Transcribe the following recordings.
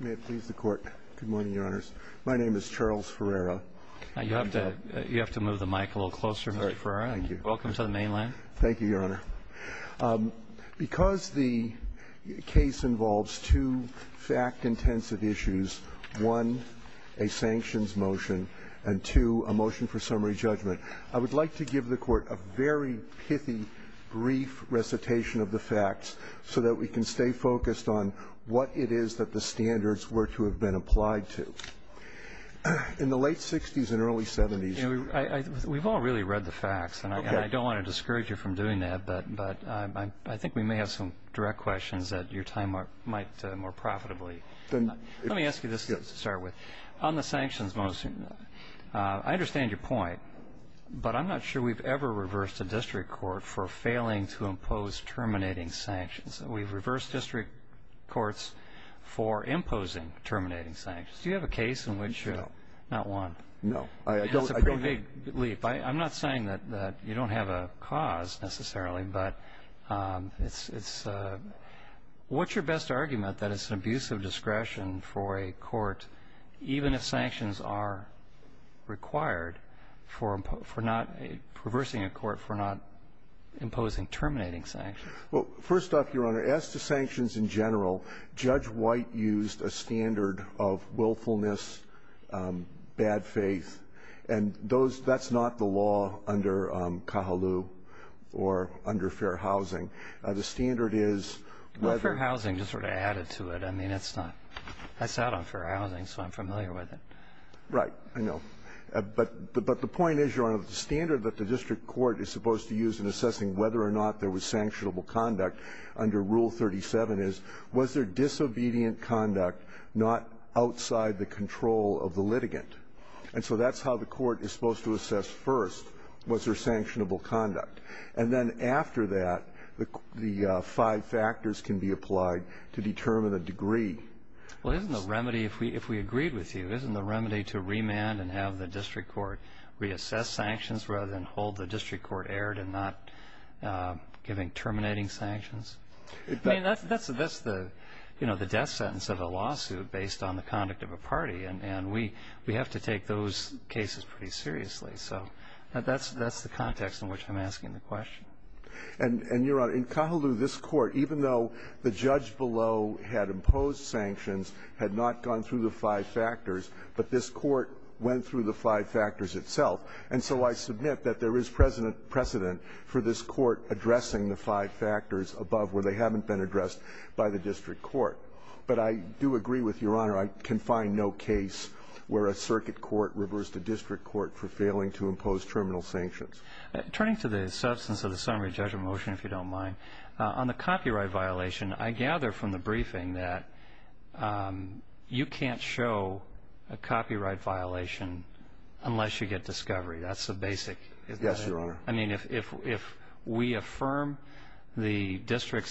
May it please the Court. Good morning, Your Honors. My name is Charles Ferreira. You have to move the mic a little closer, Mr. Ferreira. Thank you. Welcome to the mainland. Thank you, Your Honor. Because the case involves two fact-intensive issues, one, a sanctions motion, and two, a motion for summary judgment, I would like to give the Court a very pithy, brief recitation of the facts so that we can stay focused on what it is that the standards were to have been applied to. In the late 60s and early 70s- We've all really read the facts, and I don't want to discourage you from doing that, but I think we may have some direct questions that your time might more profitably- Let me ask you this to start with. On the sanctions motion, I understand your point, but I'm not sure we've ever reversed a district court for failing to impose terminating sanctions. We've reversed district courts for imposing terminating sanctions. Do you have a case in which- No. Not one? No. That's a pretty big leap. I'm not saying that you don't have a cause, necessarily, but it's- What's your best argument that it's an abuse of discretion for a court, even if sanctions are required for not reversing a court for not imposing terminating sanctions? Well, first off, Your Honor, as to sanctions in general, Judge White used a standard of willfulness, bad faith, and those-that's not the law under Kahlilu or under fair housing. The standard is whether- Well, fair housing just sort of added to it. I mean, it's not. I sat on fair housing, so I'm familiar with it. Right. I know. But the point is, Your Honor, the standard that the district court is supposed to use in assessing whether or not there was sanctionable conduct under Rule 37 is, was there disobedient conduct not outside the control of the litigant? And so that's how the court is supposed to assess first, was there sanctionable conduct. And then after that, the five factors can be applied to determine the degree. Well, isn't the remedy, if we agreed with you, isn't the remedy to remand and have the district court reassess sanctions rather than hold the district court erred and not giving terminating sanctions? I mean, that's the death sentence of a lawsuit based on the conduct of a party, and we have to take those cases pretty seriously. So that's the context in which I'm asking the question. And, Your Honor, in Kahlilu, this Court, even though the judge below had imposed sanctions, had not gone through the five factors, but this Court went through the five factors itself. And so I submit that there is precedent for this Court addressing the five factors above where they haven't been addressed by the district court. But I do agree with Your Honor, I can find no case where a circuit court reversed the district court for failing to impose terminal sanctions. Turning to the substance of the summary judgment motion, if you don't mind, on the copyright violation, I gather from the briefing that you can't show a copyright violation unless you get discovery. That's the basic. Yes, Your Honor. I mean, if we affirm the district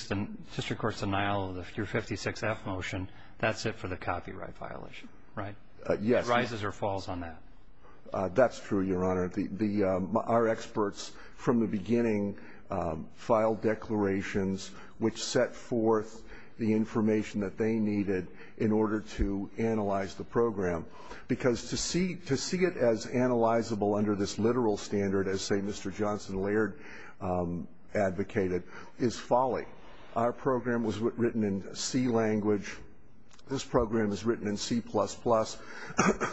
court's denial of your 56-F motion, that's it for the copyright violation, right? Yes. No rises or falls on that. That's true, Your Honor. Our experts from the beginning filed declarations which set forth the information that they needed in order to analyze the program. Because to see it as analyzable under this literal standard, as, say, Mr. Johnson Laird advocated, is folly. Our program was written in C language. This program is written in C++.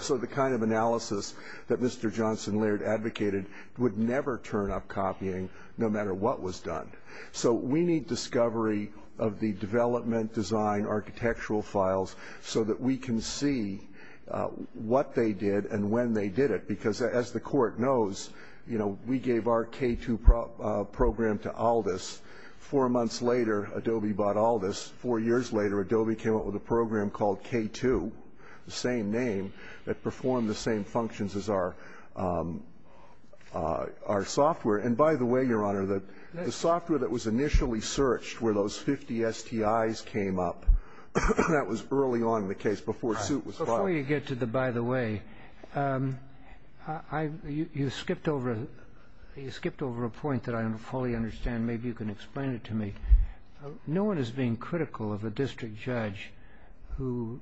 So the kind of analysis that Mr. Johnson Laird advocated would never turn up copying no matter what was done. So we need discovery of the development, design, architectural files so that we can see what they did and when they did it. Because as the court knows, you know, we gave our K2 program to Aldis. Four months later, Adobe bought Aldis. Four years later, Adobe came up with a program called K2, the same name that performed the same functions as our software. And by the way, Your Honor, the software that was initially searched where those 50 STIs came up, that was early on in the case before suit was filed. Before you get to the by the way, you skipped over a point that I don't fully understand. Maybe you can explain it to me. No one is being critical of a district judge who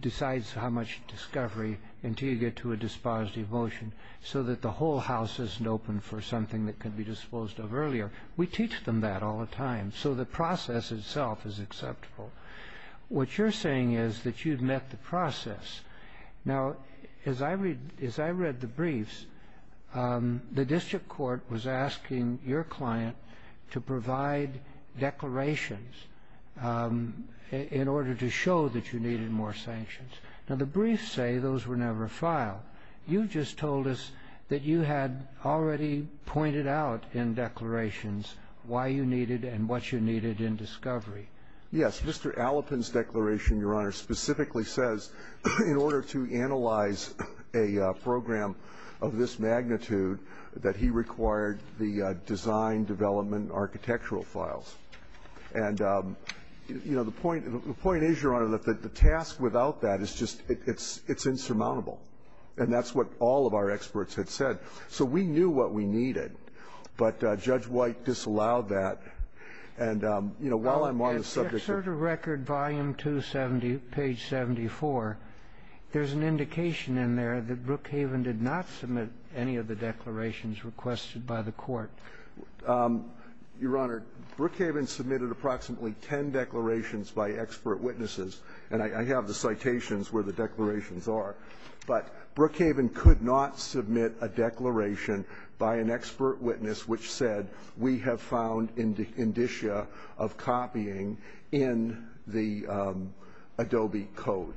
decides how much discovery until you get to a dispositive motion so that the whole house isn't open for something that can be disposed of earlier. We teach them that all the time. So the process itself is acceptable. Now, as I read the briefs, the district court was asking your client to provide declarations in order to show that you needed more sanctions. Now, the briefs say those were never filed. You just told us that you had already pointed out in declarations why you needed and what you needed in discovery. Yes. Mr. Allapin's declaration, Your Honor, specifically says in order to analyze a program of this magnitude that he required the design, development, architectural files. And, you know, the point is, Your Honor, that the task without that is just it's insurmountable. And that's what all of our experts had said. So we knew what we needed. But Judge White disallowed that. And, you know, while I'm on the subject of the record, volume 270, page 74, there's an indication in there that Brookhaven did not submit any of the declarations requested by the court. Your Honor, Brookhaven submitted approximately ten declarations by expert witnesses. And I have the citations where the declarations are. But Brookhaven could not submit a declaration by an expert witness which said, we have found indicia of copying in the Adobe code.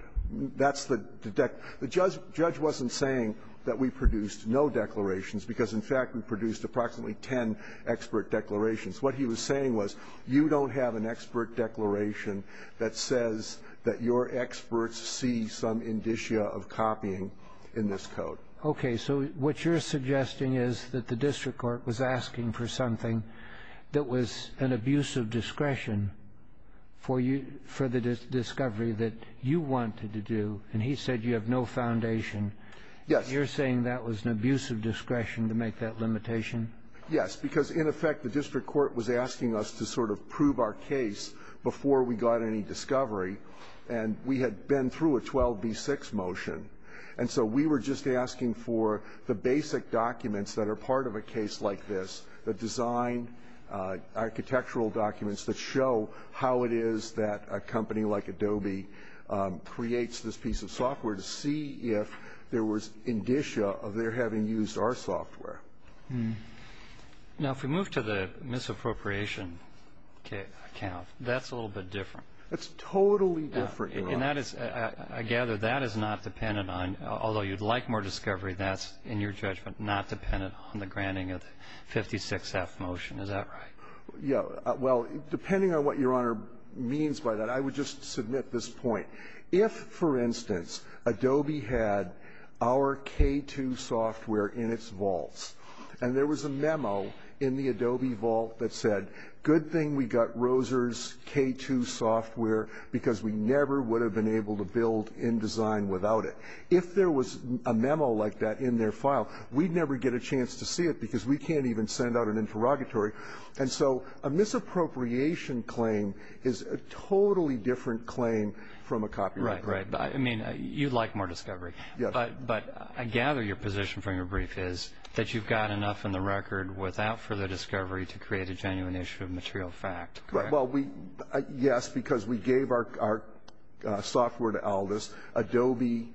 That's the dec the judge judge wasn't saying that we produced no declarations because, in fact, we produced approximately ten expert declarations. What he was saying was you don't have an expert declaration that says that your experts see some indicia of copying in this code. Okay. So what you're suggesting is that the district court was asking for something that was an abuse of discretion for you for the discovery that you wanted to do. And he said you have no foundation. Yes. You're saying that was an abuse of discretion to make that limitation? Yes. Because, in effect, the district court was asking us to sort of prove our case before we got any discovery. And we had been through a 12b-6 motion. And so we were just asking for the basic documents that are part of a case like this, the design, architectural documents that show how it is that a company like Adobe creates this piece of software to see if there was indicia of their having used our software. Now, if we move to the misappropriation account, that's a little bit different. It's totally different. And that is, I gather, that is not dependent on, although you'd like more discovery, that's, in your judgment, not dependent on the granting of 56F motion. Is that right? Yeah. Well, depending on what Your Honor means by that, I would just submit this point. If, for instance, Adobe had our K-2 software in its vaults, and there was a memo in the Adobe vault that said, good thing we got Roser's K-2 software because we never would have been able to build InDesign without it. If there was a memo like that in their file, we'd never get a chance to see it because we can't even send out an interrogatory. And so a misappropriation claim is a totally different claim from a copyright claim. Right, right. I mean, you'd like more discovery. But I gather your position from your brief is that you've got enough in the record without further discovery to create a genuine issue of material fact, correct? Well, yes, because we gave our software to Aldis. Adobe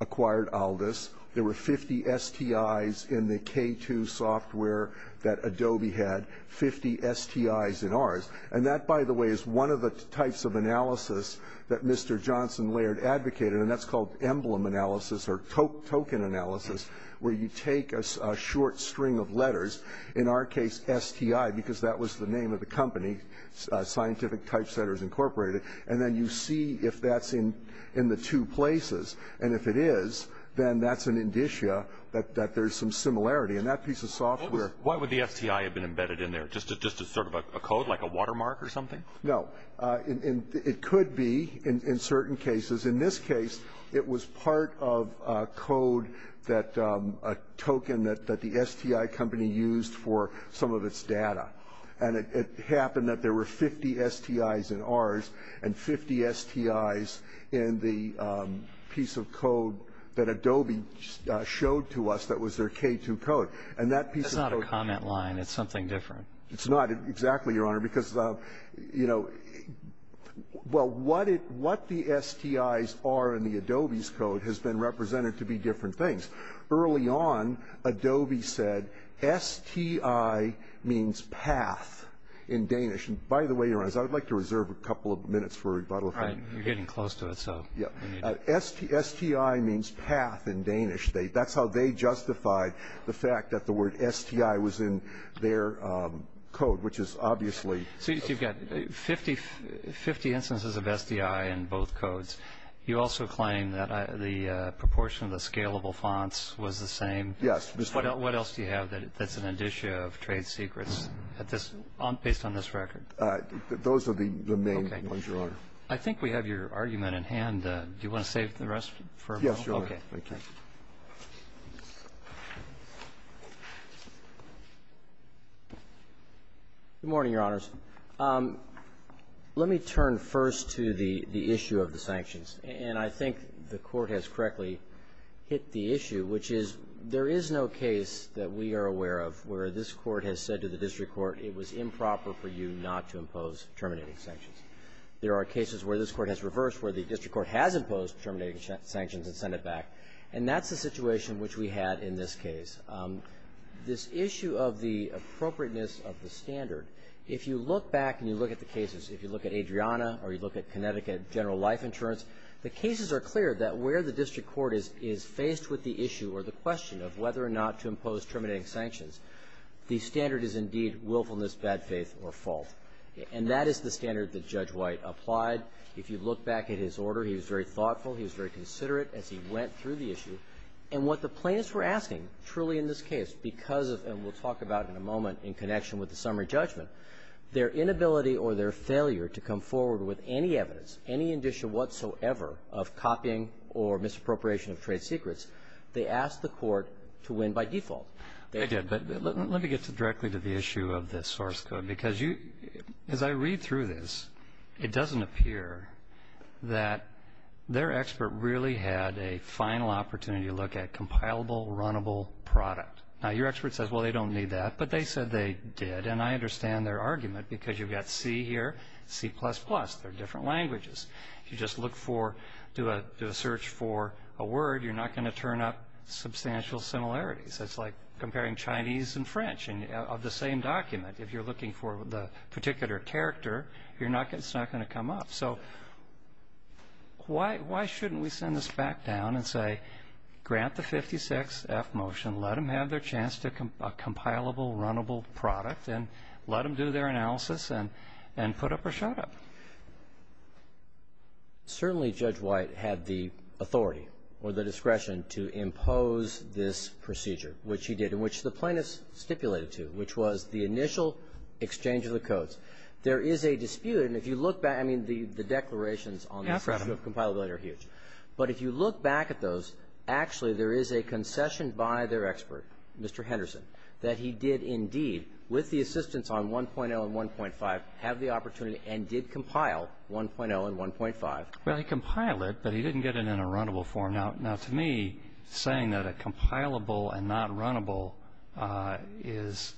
acquired Aldis. There were 50 STIs in the K-2 software that Adobe had, 50 STIs in ours. And that, by the way, is one of the types of analysis that Mr. Johnson Laird advocated, and that's called emblem analysis or token analysis, where you take a short string of letters, in our case STI because that was the name of the company, Scientific Typesetters Incorporated, and then you see if that's in the two places. And if it is, then that's an indicia that there's some similarity. And that piece of software – Why would the STI have been embedded in there? Just as sort of a code, like a watermark or something? No. It could be in certain cases. In this case, it was part of a code that – a token that the STI company used for some of its data. And it happened that there were 50 STIs in ours and 50 STIs in the piece of code that Adobe showed to us that was their K-2 code. And that piece of code – That's not a comment line. It's something different. It's not exactly, Your Honor, because, you know – Well, what the STIs are in the Adobe's code has been represented to be different things. Early on, Adobe said STI means path in Danish. And by the way, Your Honor, I would like to reserve a couple of minutes for rebuttal. All right. You're getting close to it, so – STI means path in Danish. That's how they justified the fact that the word STI was in their code, which is obviously – So you've got 50 instances of STI in both codes. You also claim that the proportion of the scalable fonts was the same. Yes. What else do you have that's an edition of trade secrets at this – based on this record? Those are the main ones, Your Honor. Okay. I think we have your argument in hand. Do you want to save the rest for rebuttal? Yes, Your Honor. Okay. Good morning, Your Honors. Let me turn first to the issue of the sanctions. And I think the Court has correctly hit the issue, which is there is no case that we are aware of where this Court has said to the district court it was improper for you not to impose terminating sanctions. There are cases where this Court has reversed, where the district court has imposed terminating sanctions and sent it back, and that's the situation which we had in this case. This issue of the appropriateness of the standard, if you look back and you look at the cases, if you look at Adriana or you look at Connecticut general life insurance, the cases are clear that where the district court is faced with the issue or the question of whether or not to impose terminating sanctions, the standard is indeed willfulness, bad faith, or fault. And that is the standard that Judge White applied. If you look back at his order, he was very thoughtful. He was very considerate as he went through the issue. And what the plaintiffs were asking, truly in this case, because of, and we'll talk about in a moment, in connection with the summary judgment, their inability or their failure to come forward with any evidence, any indicia whatsoever of copying or misappropriation of trade secrets, they asked the Court to win by default. They did. But let me get directly to the issue of this source code. As I read through this, it doesn't appear that their expert really had a final opportunity to look at compilable, runnable product. Now, your expert says, well, they don't need that, but they said they did. And I understand their argument because you've got C here, C++. They're different languages. If you just look for, do a search for a word, you're not going to turn up substantial similarities. It's like comparing Chinese and French of the same document. If you're looking for the particular character, it's not going to come up. So why shouldn't we send this back down and say, grant the 56-F motion, let them have their chance to a compilable, runnable product, and let them do their analysis and put up or shut up? Certainly Judge White had the authority or the discretion to impose this procedure, which he did, in which the plaintiffs stipulated to, which was the initial exchange of the codes. There is a dispute. And if you look back, I mean, the declarations on this issue of compilability are huge. But if you look back at those, actually there is a concession by their expert, Mr. Henderson, that he did indeed, with the assistance on 1.0 and 1.5, have the opportunity and did compile 1.0 and 1.5. Well, he compiled it, but he didn't get it in a runnable form. Now, to me, saying that a compilable and not runnable is,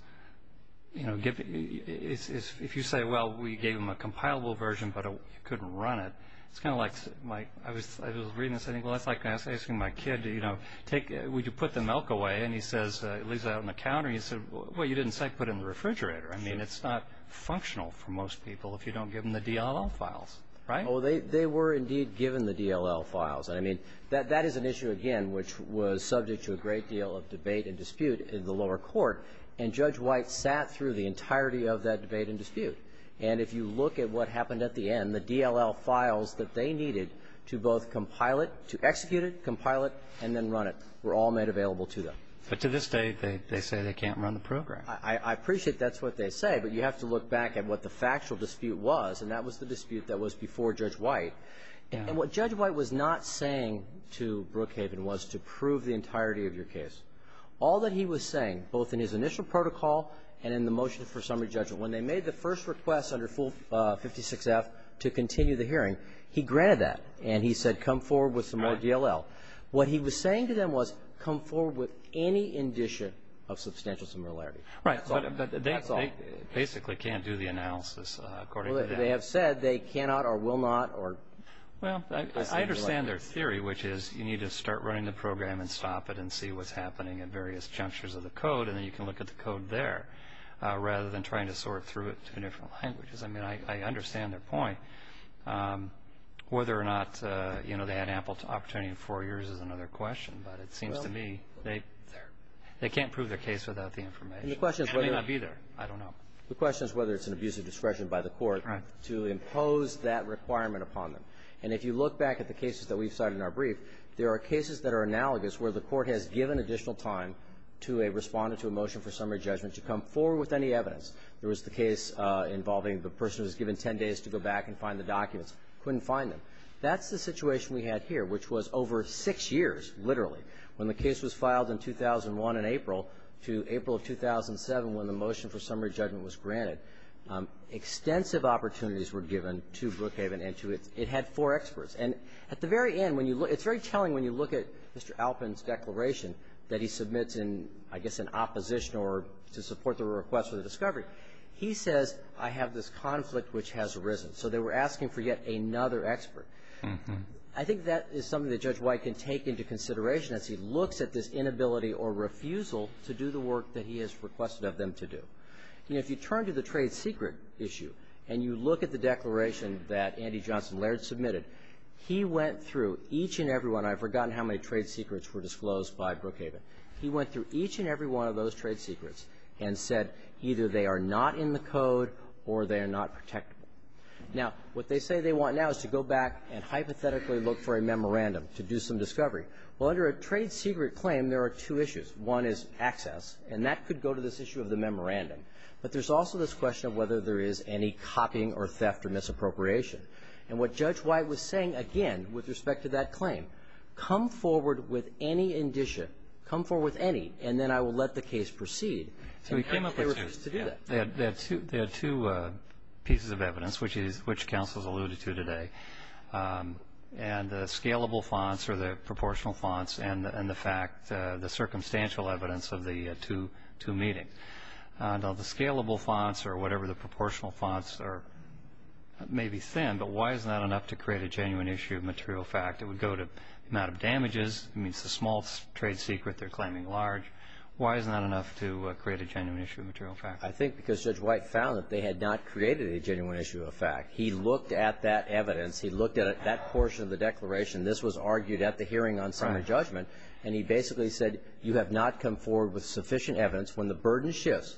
you know, if you say, well, we gave them a compilable version, but you couldn't run it, it's kind of like, I was reading this and saying, well, that's like asking my kid, you know, would you put the milk away? And he says, it leaves it out on the counter. And you say, well, you didn't say put it in the refrigerator. I mean, it's not functional for most people if you don't give them the DLL files, right? Well, they were indeed given the DLL files. And I mean, that is an issue, again, which was subject to a great deal of debate and dispute in the lower court. And Judge White sat through the entirety of that debate and dispute. And if you look at what happened at the end, the DLL files that they needed to both compile it, to execute it, compile it, and then run it were all made available to them. But to this day, they say they can't run the program. I appreciate that's what they say, but you have to look back at what the factual dispute was, and that was the dispute that was before Judge White. And what Judge White was not saying to Brookhaven was to prove the entirety of your case. All that he was saying, both in his initial protocol and in the motion for summary judgment, when they made the first request under 56F to continue the hearing, he granted that. And he said, come forward with some more DLL. What he was saying to them was, come forward with any indication of substantial similarity. That's all. They basically can't do the analysis according to that. Well, they have said they cannot or will not or. Well, I understand their theory, which is you need to start running the program and stop it and see what's happening at various junctures of the code, and then you can look at the code there, rather than trying to sort through it through different languages. I mean, I understand their point. Whether or not, you know, they had ample opportunity in four years is another question, but it seems to me they can't prove their case without the information. And the question is whether. It may not be there. I don't know. The question is whether it's an abuse of discretion by the Court to impose that requirement upon them. And if you look back at the cases that we've cited in our brief, there are cases that are analogous where the Court has given additional time to a Respondent to a motion for summary judgment to come forward with any evidence. There was the case involving the person who was given 10 days to go back and find the documents, couldn't find them. That's the situation we had here, which was over six years, literally, when the case was filed in 2001 in April to April of 2007, when the motion for summary judgment was granted. Extensive opportunities were given to Brookhaven and to its – it had four experts. And at the very end, when you look – it's very telling when you look at Mr. Alpin's declaration that he submits in, I guess, an opposition or to support the request for the discovery. He says, I have this conflict which has arisen. So they were asking for yet another expert. I think that is something that Judge White can take into consideration as he looks at this inability or refusal to do the work that he has requested of them to do. You know, if you turn to the trade secret issue and you look at the declaration that Andy Johnson Laird submitted, he went through each and every one. I've forgotten how many trade secrets were disclosed by Brookhaven. He went through each and every one of those trade secrets and said either they are not in the code or they are not protectable. Now, what they say they want now is to go back and hypothetically look for a memorandum to do some discovery. Well, under a trade secret claim, there are two issues. One is access, and that could go to this issue of the memorandum. But there's also this question of whether there is any copying or theft or misappropriation. And what Judge White was saying, again, with respect to that claim, come forward with any indicia, come forward with any, and then I will let the case proceed. So he came up with two. They had two pieces of evidence, which counsel has alluded to today. And the scalable fonts or the proportional fonts and the fact, the circumstantial evidence of the two meetings. Now, the scalable fonts or whatever the proportional fonts are may be thin, but why is that enough to create a genuine issue of material fact? It would go to the amount of damages. I mean, it's a small trade secret they're claiming large. Why is that enough to create a genuine issue of material fact? I think because Judge White found that they had not created a genuine issue of fact. He looked at that evidence. He looked at that portion of the declaration. This was argued at the hearing on Senate judgment. And he basically said, you have not come forward with sufficient evidence. When the burden shifts,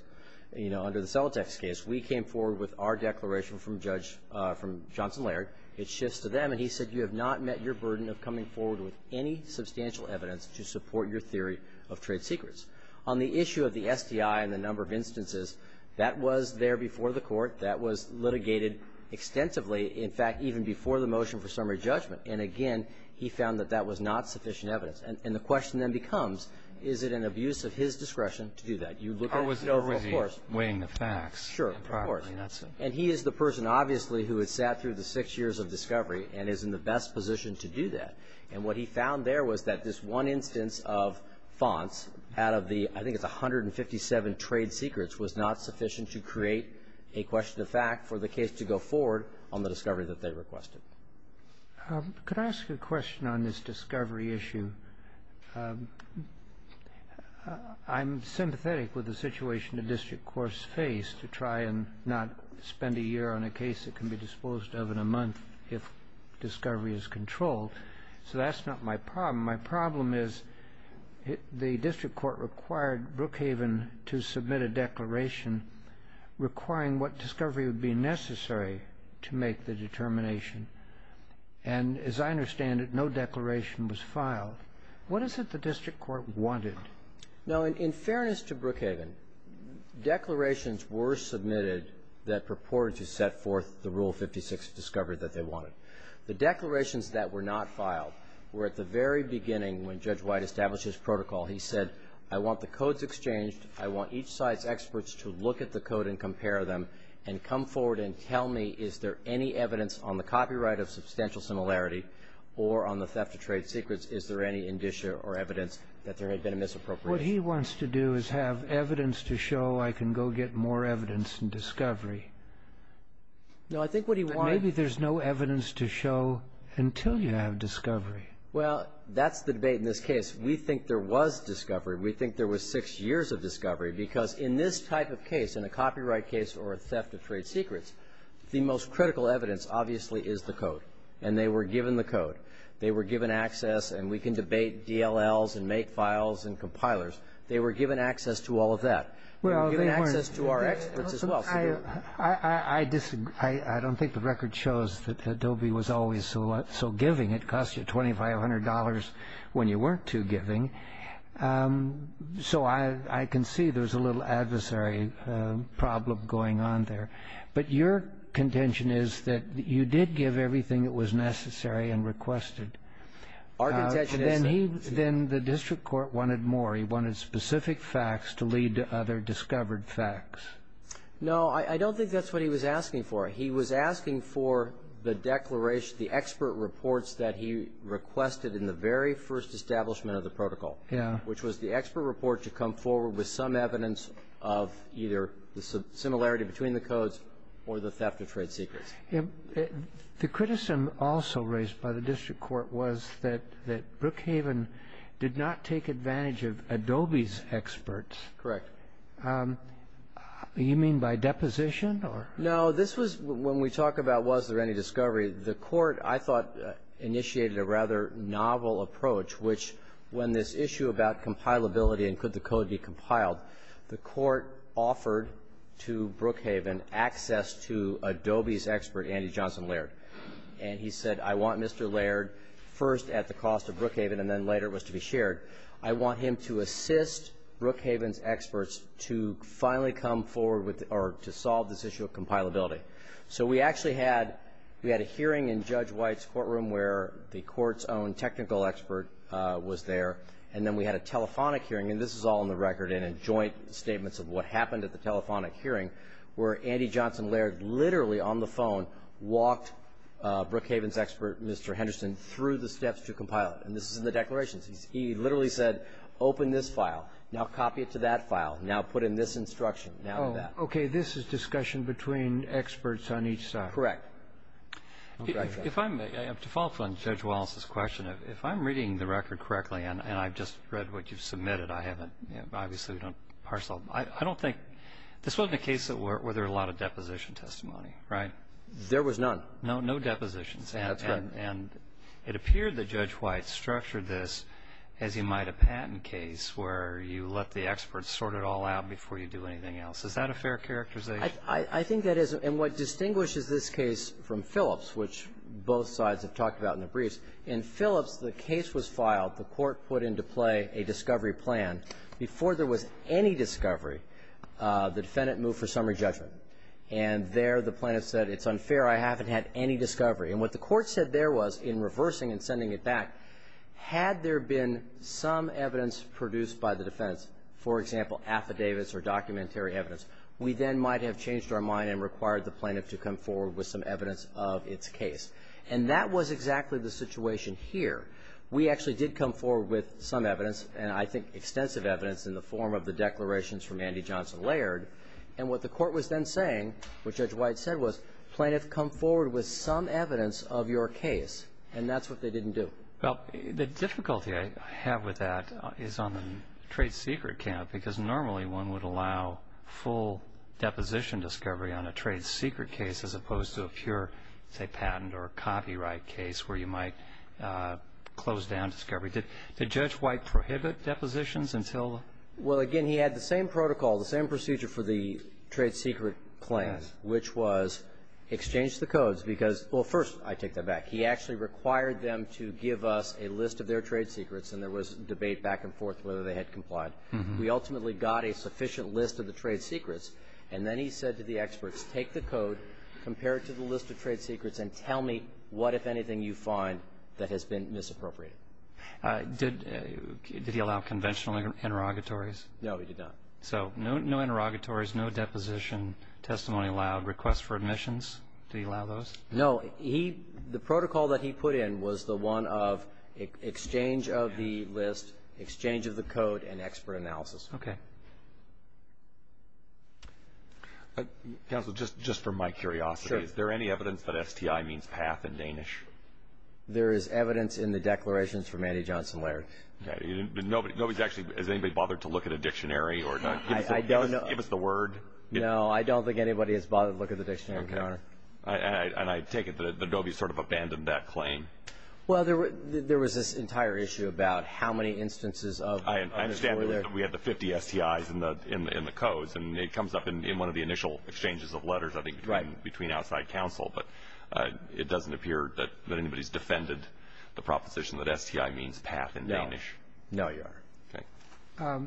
you know, under the Celotex case, we came forward with our declaration from Judge, from Johnson Laird. It shifts to them. And he said, you have not met your burden of coming forward with any substantial evidence to support your theory of trade secrets. That was litigated extensively. In fact, even before the motion for summary judgment. And again, he found that that was not sufficient evidence. And the question then becomes, is it an abuse of his discretion to do that? You look at it. No, of course. And he is the person, obviously, who has sat through the six years of discovery and is in the best position to do that. And what he found there was that this one instance of fonts out of the, I think to go forward on the discovery that they requested. Could I ask a question on this discovery issue? I'm sympathetic with the situation the district courts face to try and not spend a year on a case that can be disposed of in a month if discovery is controlled. So that's not my problem. My problem is the district court required Brookhaven to submit a declaration requiring what discovery would be necessary to make the determination. And as I understand it, no declaration was filed. What is it the district court wanted? Now, in fairness to Brookhaven, declarations were submitted that purported to set forth the Rule 56 discovery that they wanted. The declarations that were not filed were at the very beginning when Judge White established his protocol. He said, I want the codes exchanged. I want each side's experts to look at the code and compare them and come forward and tell me, is there any evidence on the copyright of substantial similarity or on the theft of trade secrets, is there any indicia or evidence that there had been a misappropriation? What he wants to do is have evidence to show I can go get more evidence in discovery. No, I think what he wants to do is have evidence to show I can go get more evidence until you have discovery. Well, that's the debate in this case. We think there was discovery. We think there was six years of discovery because in this type of case, in a copyright case or a theft of trade secrets, the most critical evidence obviously is the code. And they were given the code. They were given access, and we can debate DLLs and make files and compilers. They were given access to all of that. They were given access to our experts as well. I disagree. I don't think the record shows that Adobe was always so giving. It cost you $2,500 when you weren't too giving. So I can see there's a little adversary problem going on there. But your contention is that you did give everything that was necessary and requested. Our contention isn't. Then the district court wanted more. He wanted specific facts to lead to other discovered facts. No, I don't think that's what he was asking for. He was asking for the declaration, the expert reports that he requested in the very first establishment of the protocol, which was the expert report to come forward with some evidence of either the similarity between the codes or the theft of trade secrets. The criticism also raised by the district court was that Brookhaven did not take advantage of Adobe's experts. Correct. You mean by deposition? No, this was when we talk about was there any discovery, the court, I thought, initiated a rather novel approach, which when this issue about compilability and could the code be compiled, the court offered to Brookhaven access to Adobe's expert, Andy Johnson Laird. And he said, I want Mr. Laird first at the cost of Brookhaven, and then later it was to be shared. I want him to assist Brookhaven's experts to finally come forward with or to solve this issue of compilability. So we actually had we had a hearing in Judge White's courtroom where the court's own technical expert was there, and then we had a telephonic hearing, and this is all in the record and in joint statements of what happened at the telephonic hearing where Andy Johnson Laird literally on the phone walked Brookhaven's expert, Mr. Henderson, through the steps to compile it. And this is in the declarations. He literally said, open this file. Now copy it to that file. Now put in this instruction. Now do that. Okay. This is discussion between experts on each side. Correct. If I may, to follow up on Judge Wallace's question, if I'm reading the record correctly, and I've just read what you've submitted, I haven't, obviously we don't parcel. I don't think, this wasn't a case where there were a lot of deposition testimony, right? There was none. No, no depositions. That's correct. And it appeared that Judge White structured this as you might a patent case where you let the experts sort it all out before you do anything else. Is that a fair characterization? I think that is. And what distinguishes this case from Phillips, which both sides have talked about in the briefs, in Phillips the case was filed. The Court put into play a discovery plan. Before there was any discovery, the defendant moved for summary judgment. And there the plaintiff said, it's unfair. I haven't had any discovery. And what the Court said there was, in reversing and sending it back, had there been some evidence produced by the defense, for example, affidavits or documentary evidence, we then might have changed our mind and required the plaintiff to come forward with some evidence of its case. And that was exactly the situation here. We actually did come forward with some evidence, and I think extensive evidence, in the form of the declarations from Andy Johnson Laird. And what the Court was then saying, what Judge White said was, plaintiff, come forward with some evidence of your case. And that's what they didn't do. Well, the difficulty I have with that is on the trade secret count, because normally one would allow full deposition discovery on a trade secret case as opposed to a pure, say, patent or copyright case where you might close down discovery. Did Judge White prohibit depositions until the ---- Well, again, he had the same protocol, the same procedure for the trade secret claim, which was exchange the codes because ---- well, first I take that back. He actually required them to give us a list of their trade secrets, and there was debate back and forth whether they had complied. We ultimately got a sufficient list of the trade secrets, and then he said to the experts, take the code, compare it to the list of trade secrets, and tell me what, if anything, you find that has been misappropriated. Did he allow conventional interrogatories? No, he did not. So no interrogatories, no deposition, testimony allowed, requests for admissions, did he allow those? No, he ---- the protocol that he put in was the one of exchange of the list, exchange of the code, and expert analysis. Okay. Counsel, just for my curiosity, is there any evidence that STI means path in Danish? There is evidence in the declarations from Andy Johnson Laird. Okay. Nobody's actually ---- has anybody bothered to look at a dictionary or give us the word? And I take it that Adobe sort of abandoned that claim. Well, there was this entire issue about how many instances of ---- I understand that we had the 50 STIs in the codes, and it comes up in one of the initial exchanges of letters, I think, between outside counsel, but it doesn't appear that anybody's defended the proposition that STI means path in Danish. No. No, Your Honor.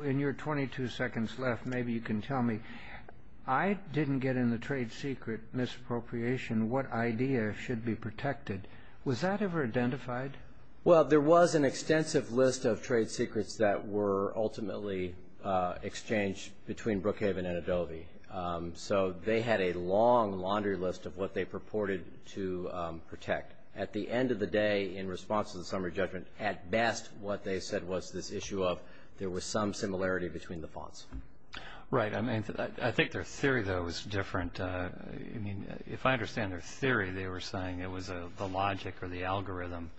Okay. In your 22 seconds left, maybe you can tell me. I didn't get in the trade secret misappropriation, what idea should be protected. Was that ever identified? Well, there was an extensive list of trade secrets that were ultimately exchanged between Brookhaven and Adobe. So they had a long laundry list of what they purported to protect. At the end of the day, in response to the summary judgment, at best what they said was this issue of there was some similarity between the fonts. Right. I mean, I think their theory, though, was different. I mean, if I understand their theory, they were saying it was the logic or the algorithm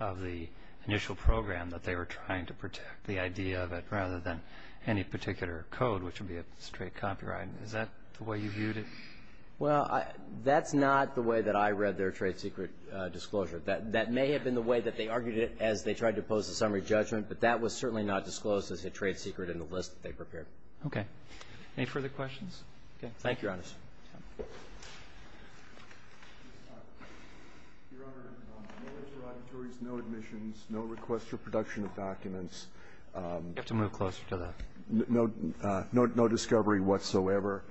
of the initial program that they were trying to protect, the idea of it, rather than any particular code, which would be a straight copyright. Is that the way you viewed it? Well, that's not the way that I read their trade secret disclosure. That may have been the way that they argued it as they tried to pose the summary judgment, but that was certainly not disclosed as a trade secret in the list that they prepared. Okay. Any further questions? Okay. Thank you, Your Honors. Your Honor, no interrogatories, no admissions, no requests for production of documents. You have to move closer to the next. No discovery whatsoever.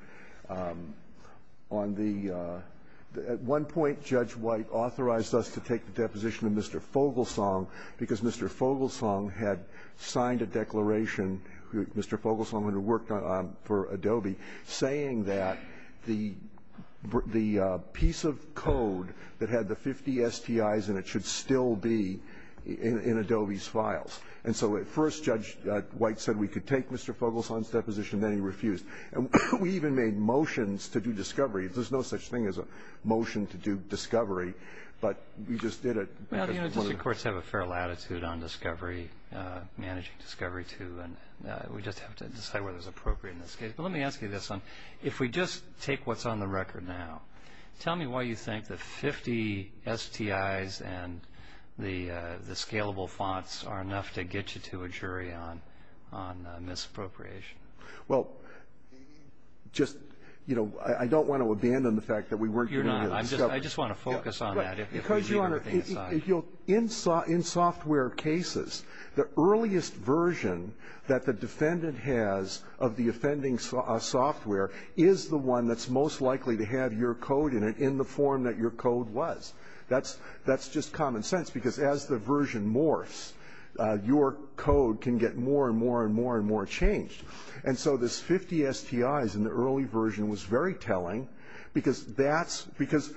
On the at one point, Judge White authorized us to take the deposition of Mr. Fogelsang because Mr. Fogelsang had signed a declaration, Mr. Fogelsang had worked on it for Adobe, saying that the piece of code that had the 50 STIs in it should still be in Adobe's files. And so at first, Judge White said we could take Mr. Fogelsang's deposition, then he refused. We even made motions to do discovery. There's no such thing as a motion to do discovery, but we just did it. Well, the district courts have a fair latitude on discovery, managing discovery, too, and we just have to decide whether it's appropriate in this case. But let me ask you this. If we just take what's on the record now, tell me why you think the 50 STIs and the scalable fonts are enough to get you to a jury on misappropriation. Well, just, you know, I don't want to abandon the fact that we weren't going to do the discovery. You're not. I just want to focus on that. Because, Your Honor, in software cases, the earliest version that the defendant has of the offending software is the one that's most likely to have your code in it in the form that your code was. That's just common sense, because as the version morphs, your code can get more and more and more and more changed. And so this 50 STIs in the early version was very telling, because that's – because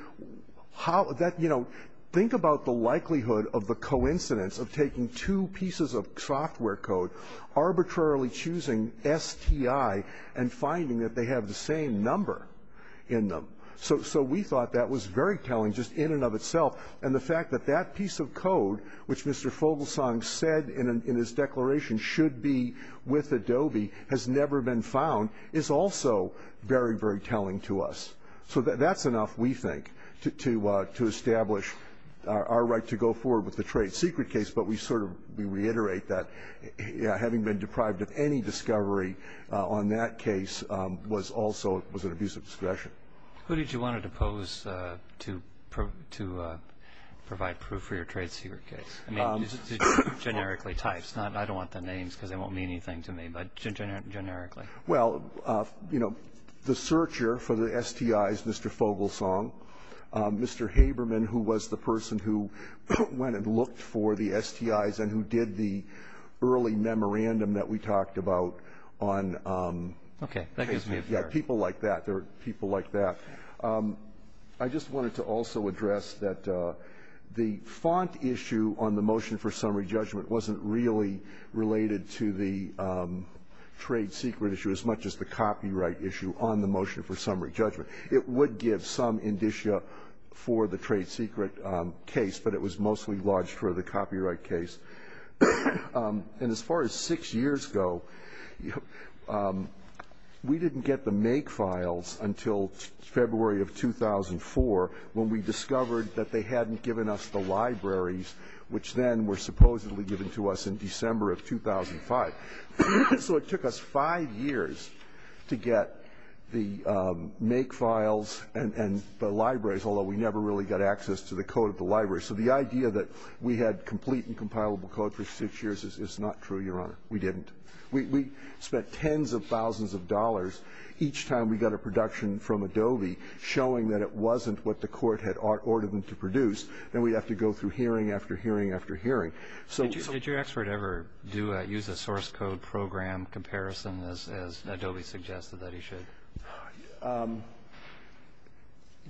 how – that, you know, think about the likelihood of the coincidence of taking two pieces of software code, arbitrarily choosing STI and finding that they have the same number in them. So we thought that was very telling just in and of itself. And the fact that that piece of code, which Mr. Fogelsong said in his declaration should be with Adobe, has never been found, is also very, very telling to us. So that's enough, we think, to establish our right to go forward with the trade secret case, but we sort of reiterate that having been deprived of any discovery on that case was also – was an abuse of discretion. Who did you want to depose to provide proof for your trade secret case? I mean, generically types, not – I don't want the names, because they won't mean anything to me, but generically. Well, you know, the searcher for the STIs, Mr. Fogelsong, Mr. Haberman, who was the person who went and looked for the STIs and who did the early memorandum that we talked about on – Okay. That gives me a – Yeah, people like that. There were people like that. I just wanted to also address that the font issue on the motion for summary judgment wasn't really related to the trade secret issue as much as the copyright issue on the motion for summary judgment. It would give some indicia for the trade secret case, but it was mostly lodged for the copyright case. And as far as six years ago, we didn't get the make files until February of 2004 when we discovered that they hadn't given us the libraries, which then were supposedly given to us in December of 2005. So it took us five years to get the make files and the libraries, although we never really got access to the code of the libraries. So the idea that we had complete and compilable code for six years is not true, Your Honor. We didn't. We spent tens of thousands of dollars each time we got a production from Adobe showing that it wasn't what the court had ordered them to produce, and we'd have to go through hearing after hearing after hearing. So – Did your expert ever do – use a source code program comparison, as Adobe suggested that he should?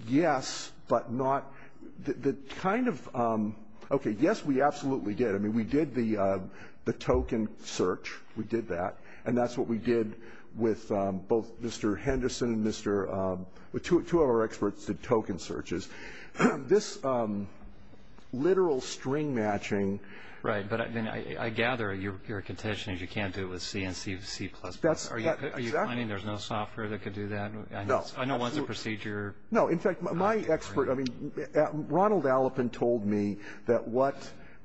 Yes, but not – the kind of – okay, yes, we absolutely did. I mean, we did the token search. We did that. And that's what we did with both Mr. Henderson and Mr. – two of our experts did token searches. This literal string matching – Right. But, I mean, I gather your contention is you can't do it with C and C++. That's – Are you claiming there's no software that could do that? No. I know it's a procedure. No, in fact, my expert – I mean, Ronald Allepin told me that what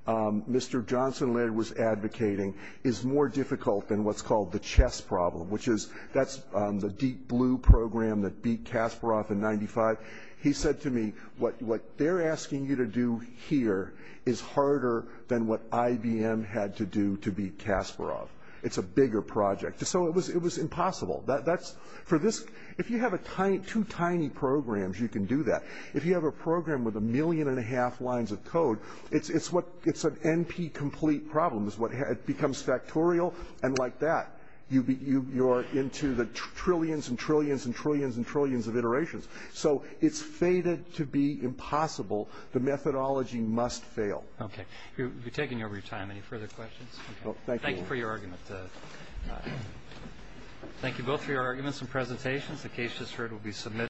Mr. Johnson later was advocating is more difficult than what's called the chess problem, which is – that's the deep blue program that beat Kasparov in 95. He said to me, what they're asking you to do here is harder than what IBM had to do to beat Kasparov. It's a bigger project. So it was impossible. That's – for this – if you have a – two tiny programs, you can do that. If you have a program with a million and a half lines of code, it's what – it's an NP-complete problem is what – it becomes factorial, and like that, you're into the trillions and trillions and trillions and trillions of iterations. So it's fated to be impossible. The methodology must fail. Okay. You're taking over your time. Any further questions? Okay. Thank you. Thank you for your argument. Thank you both for your arguments and presentations. The case just heard will be submitted.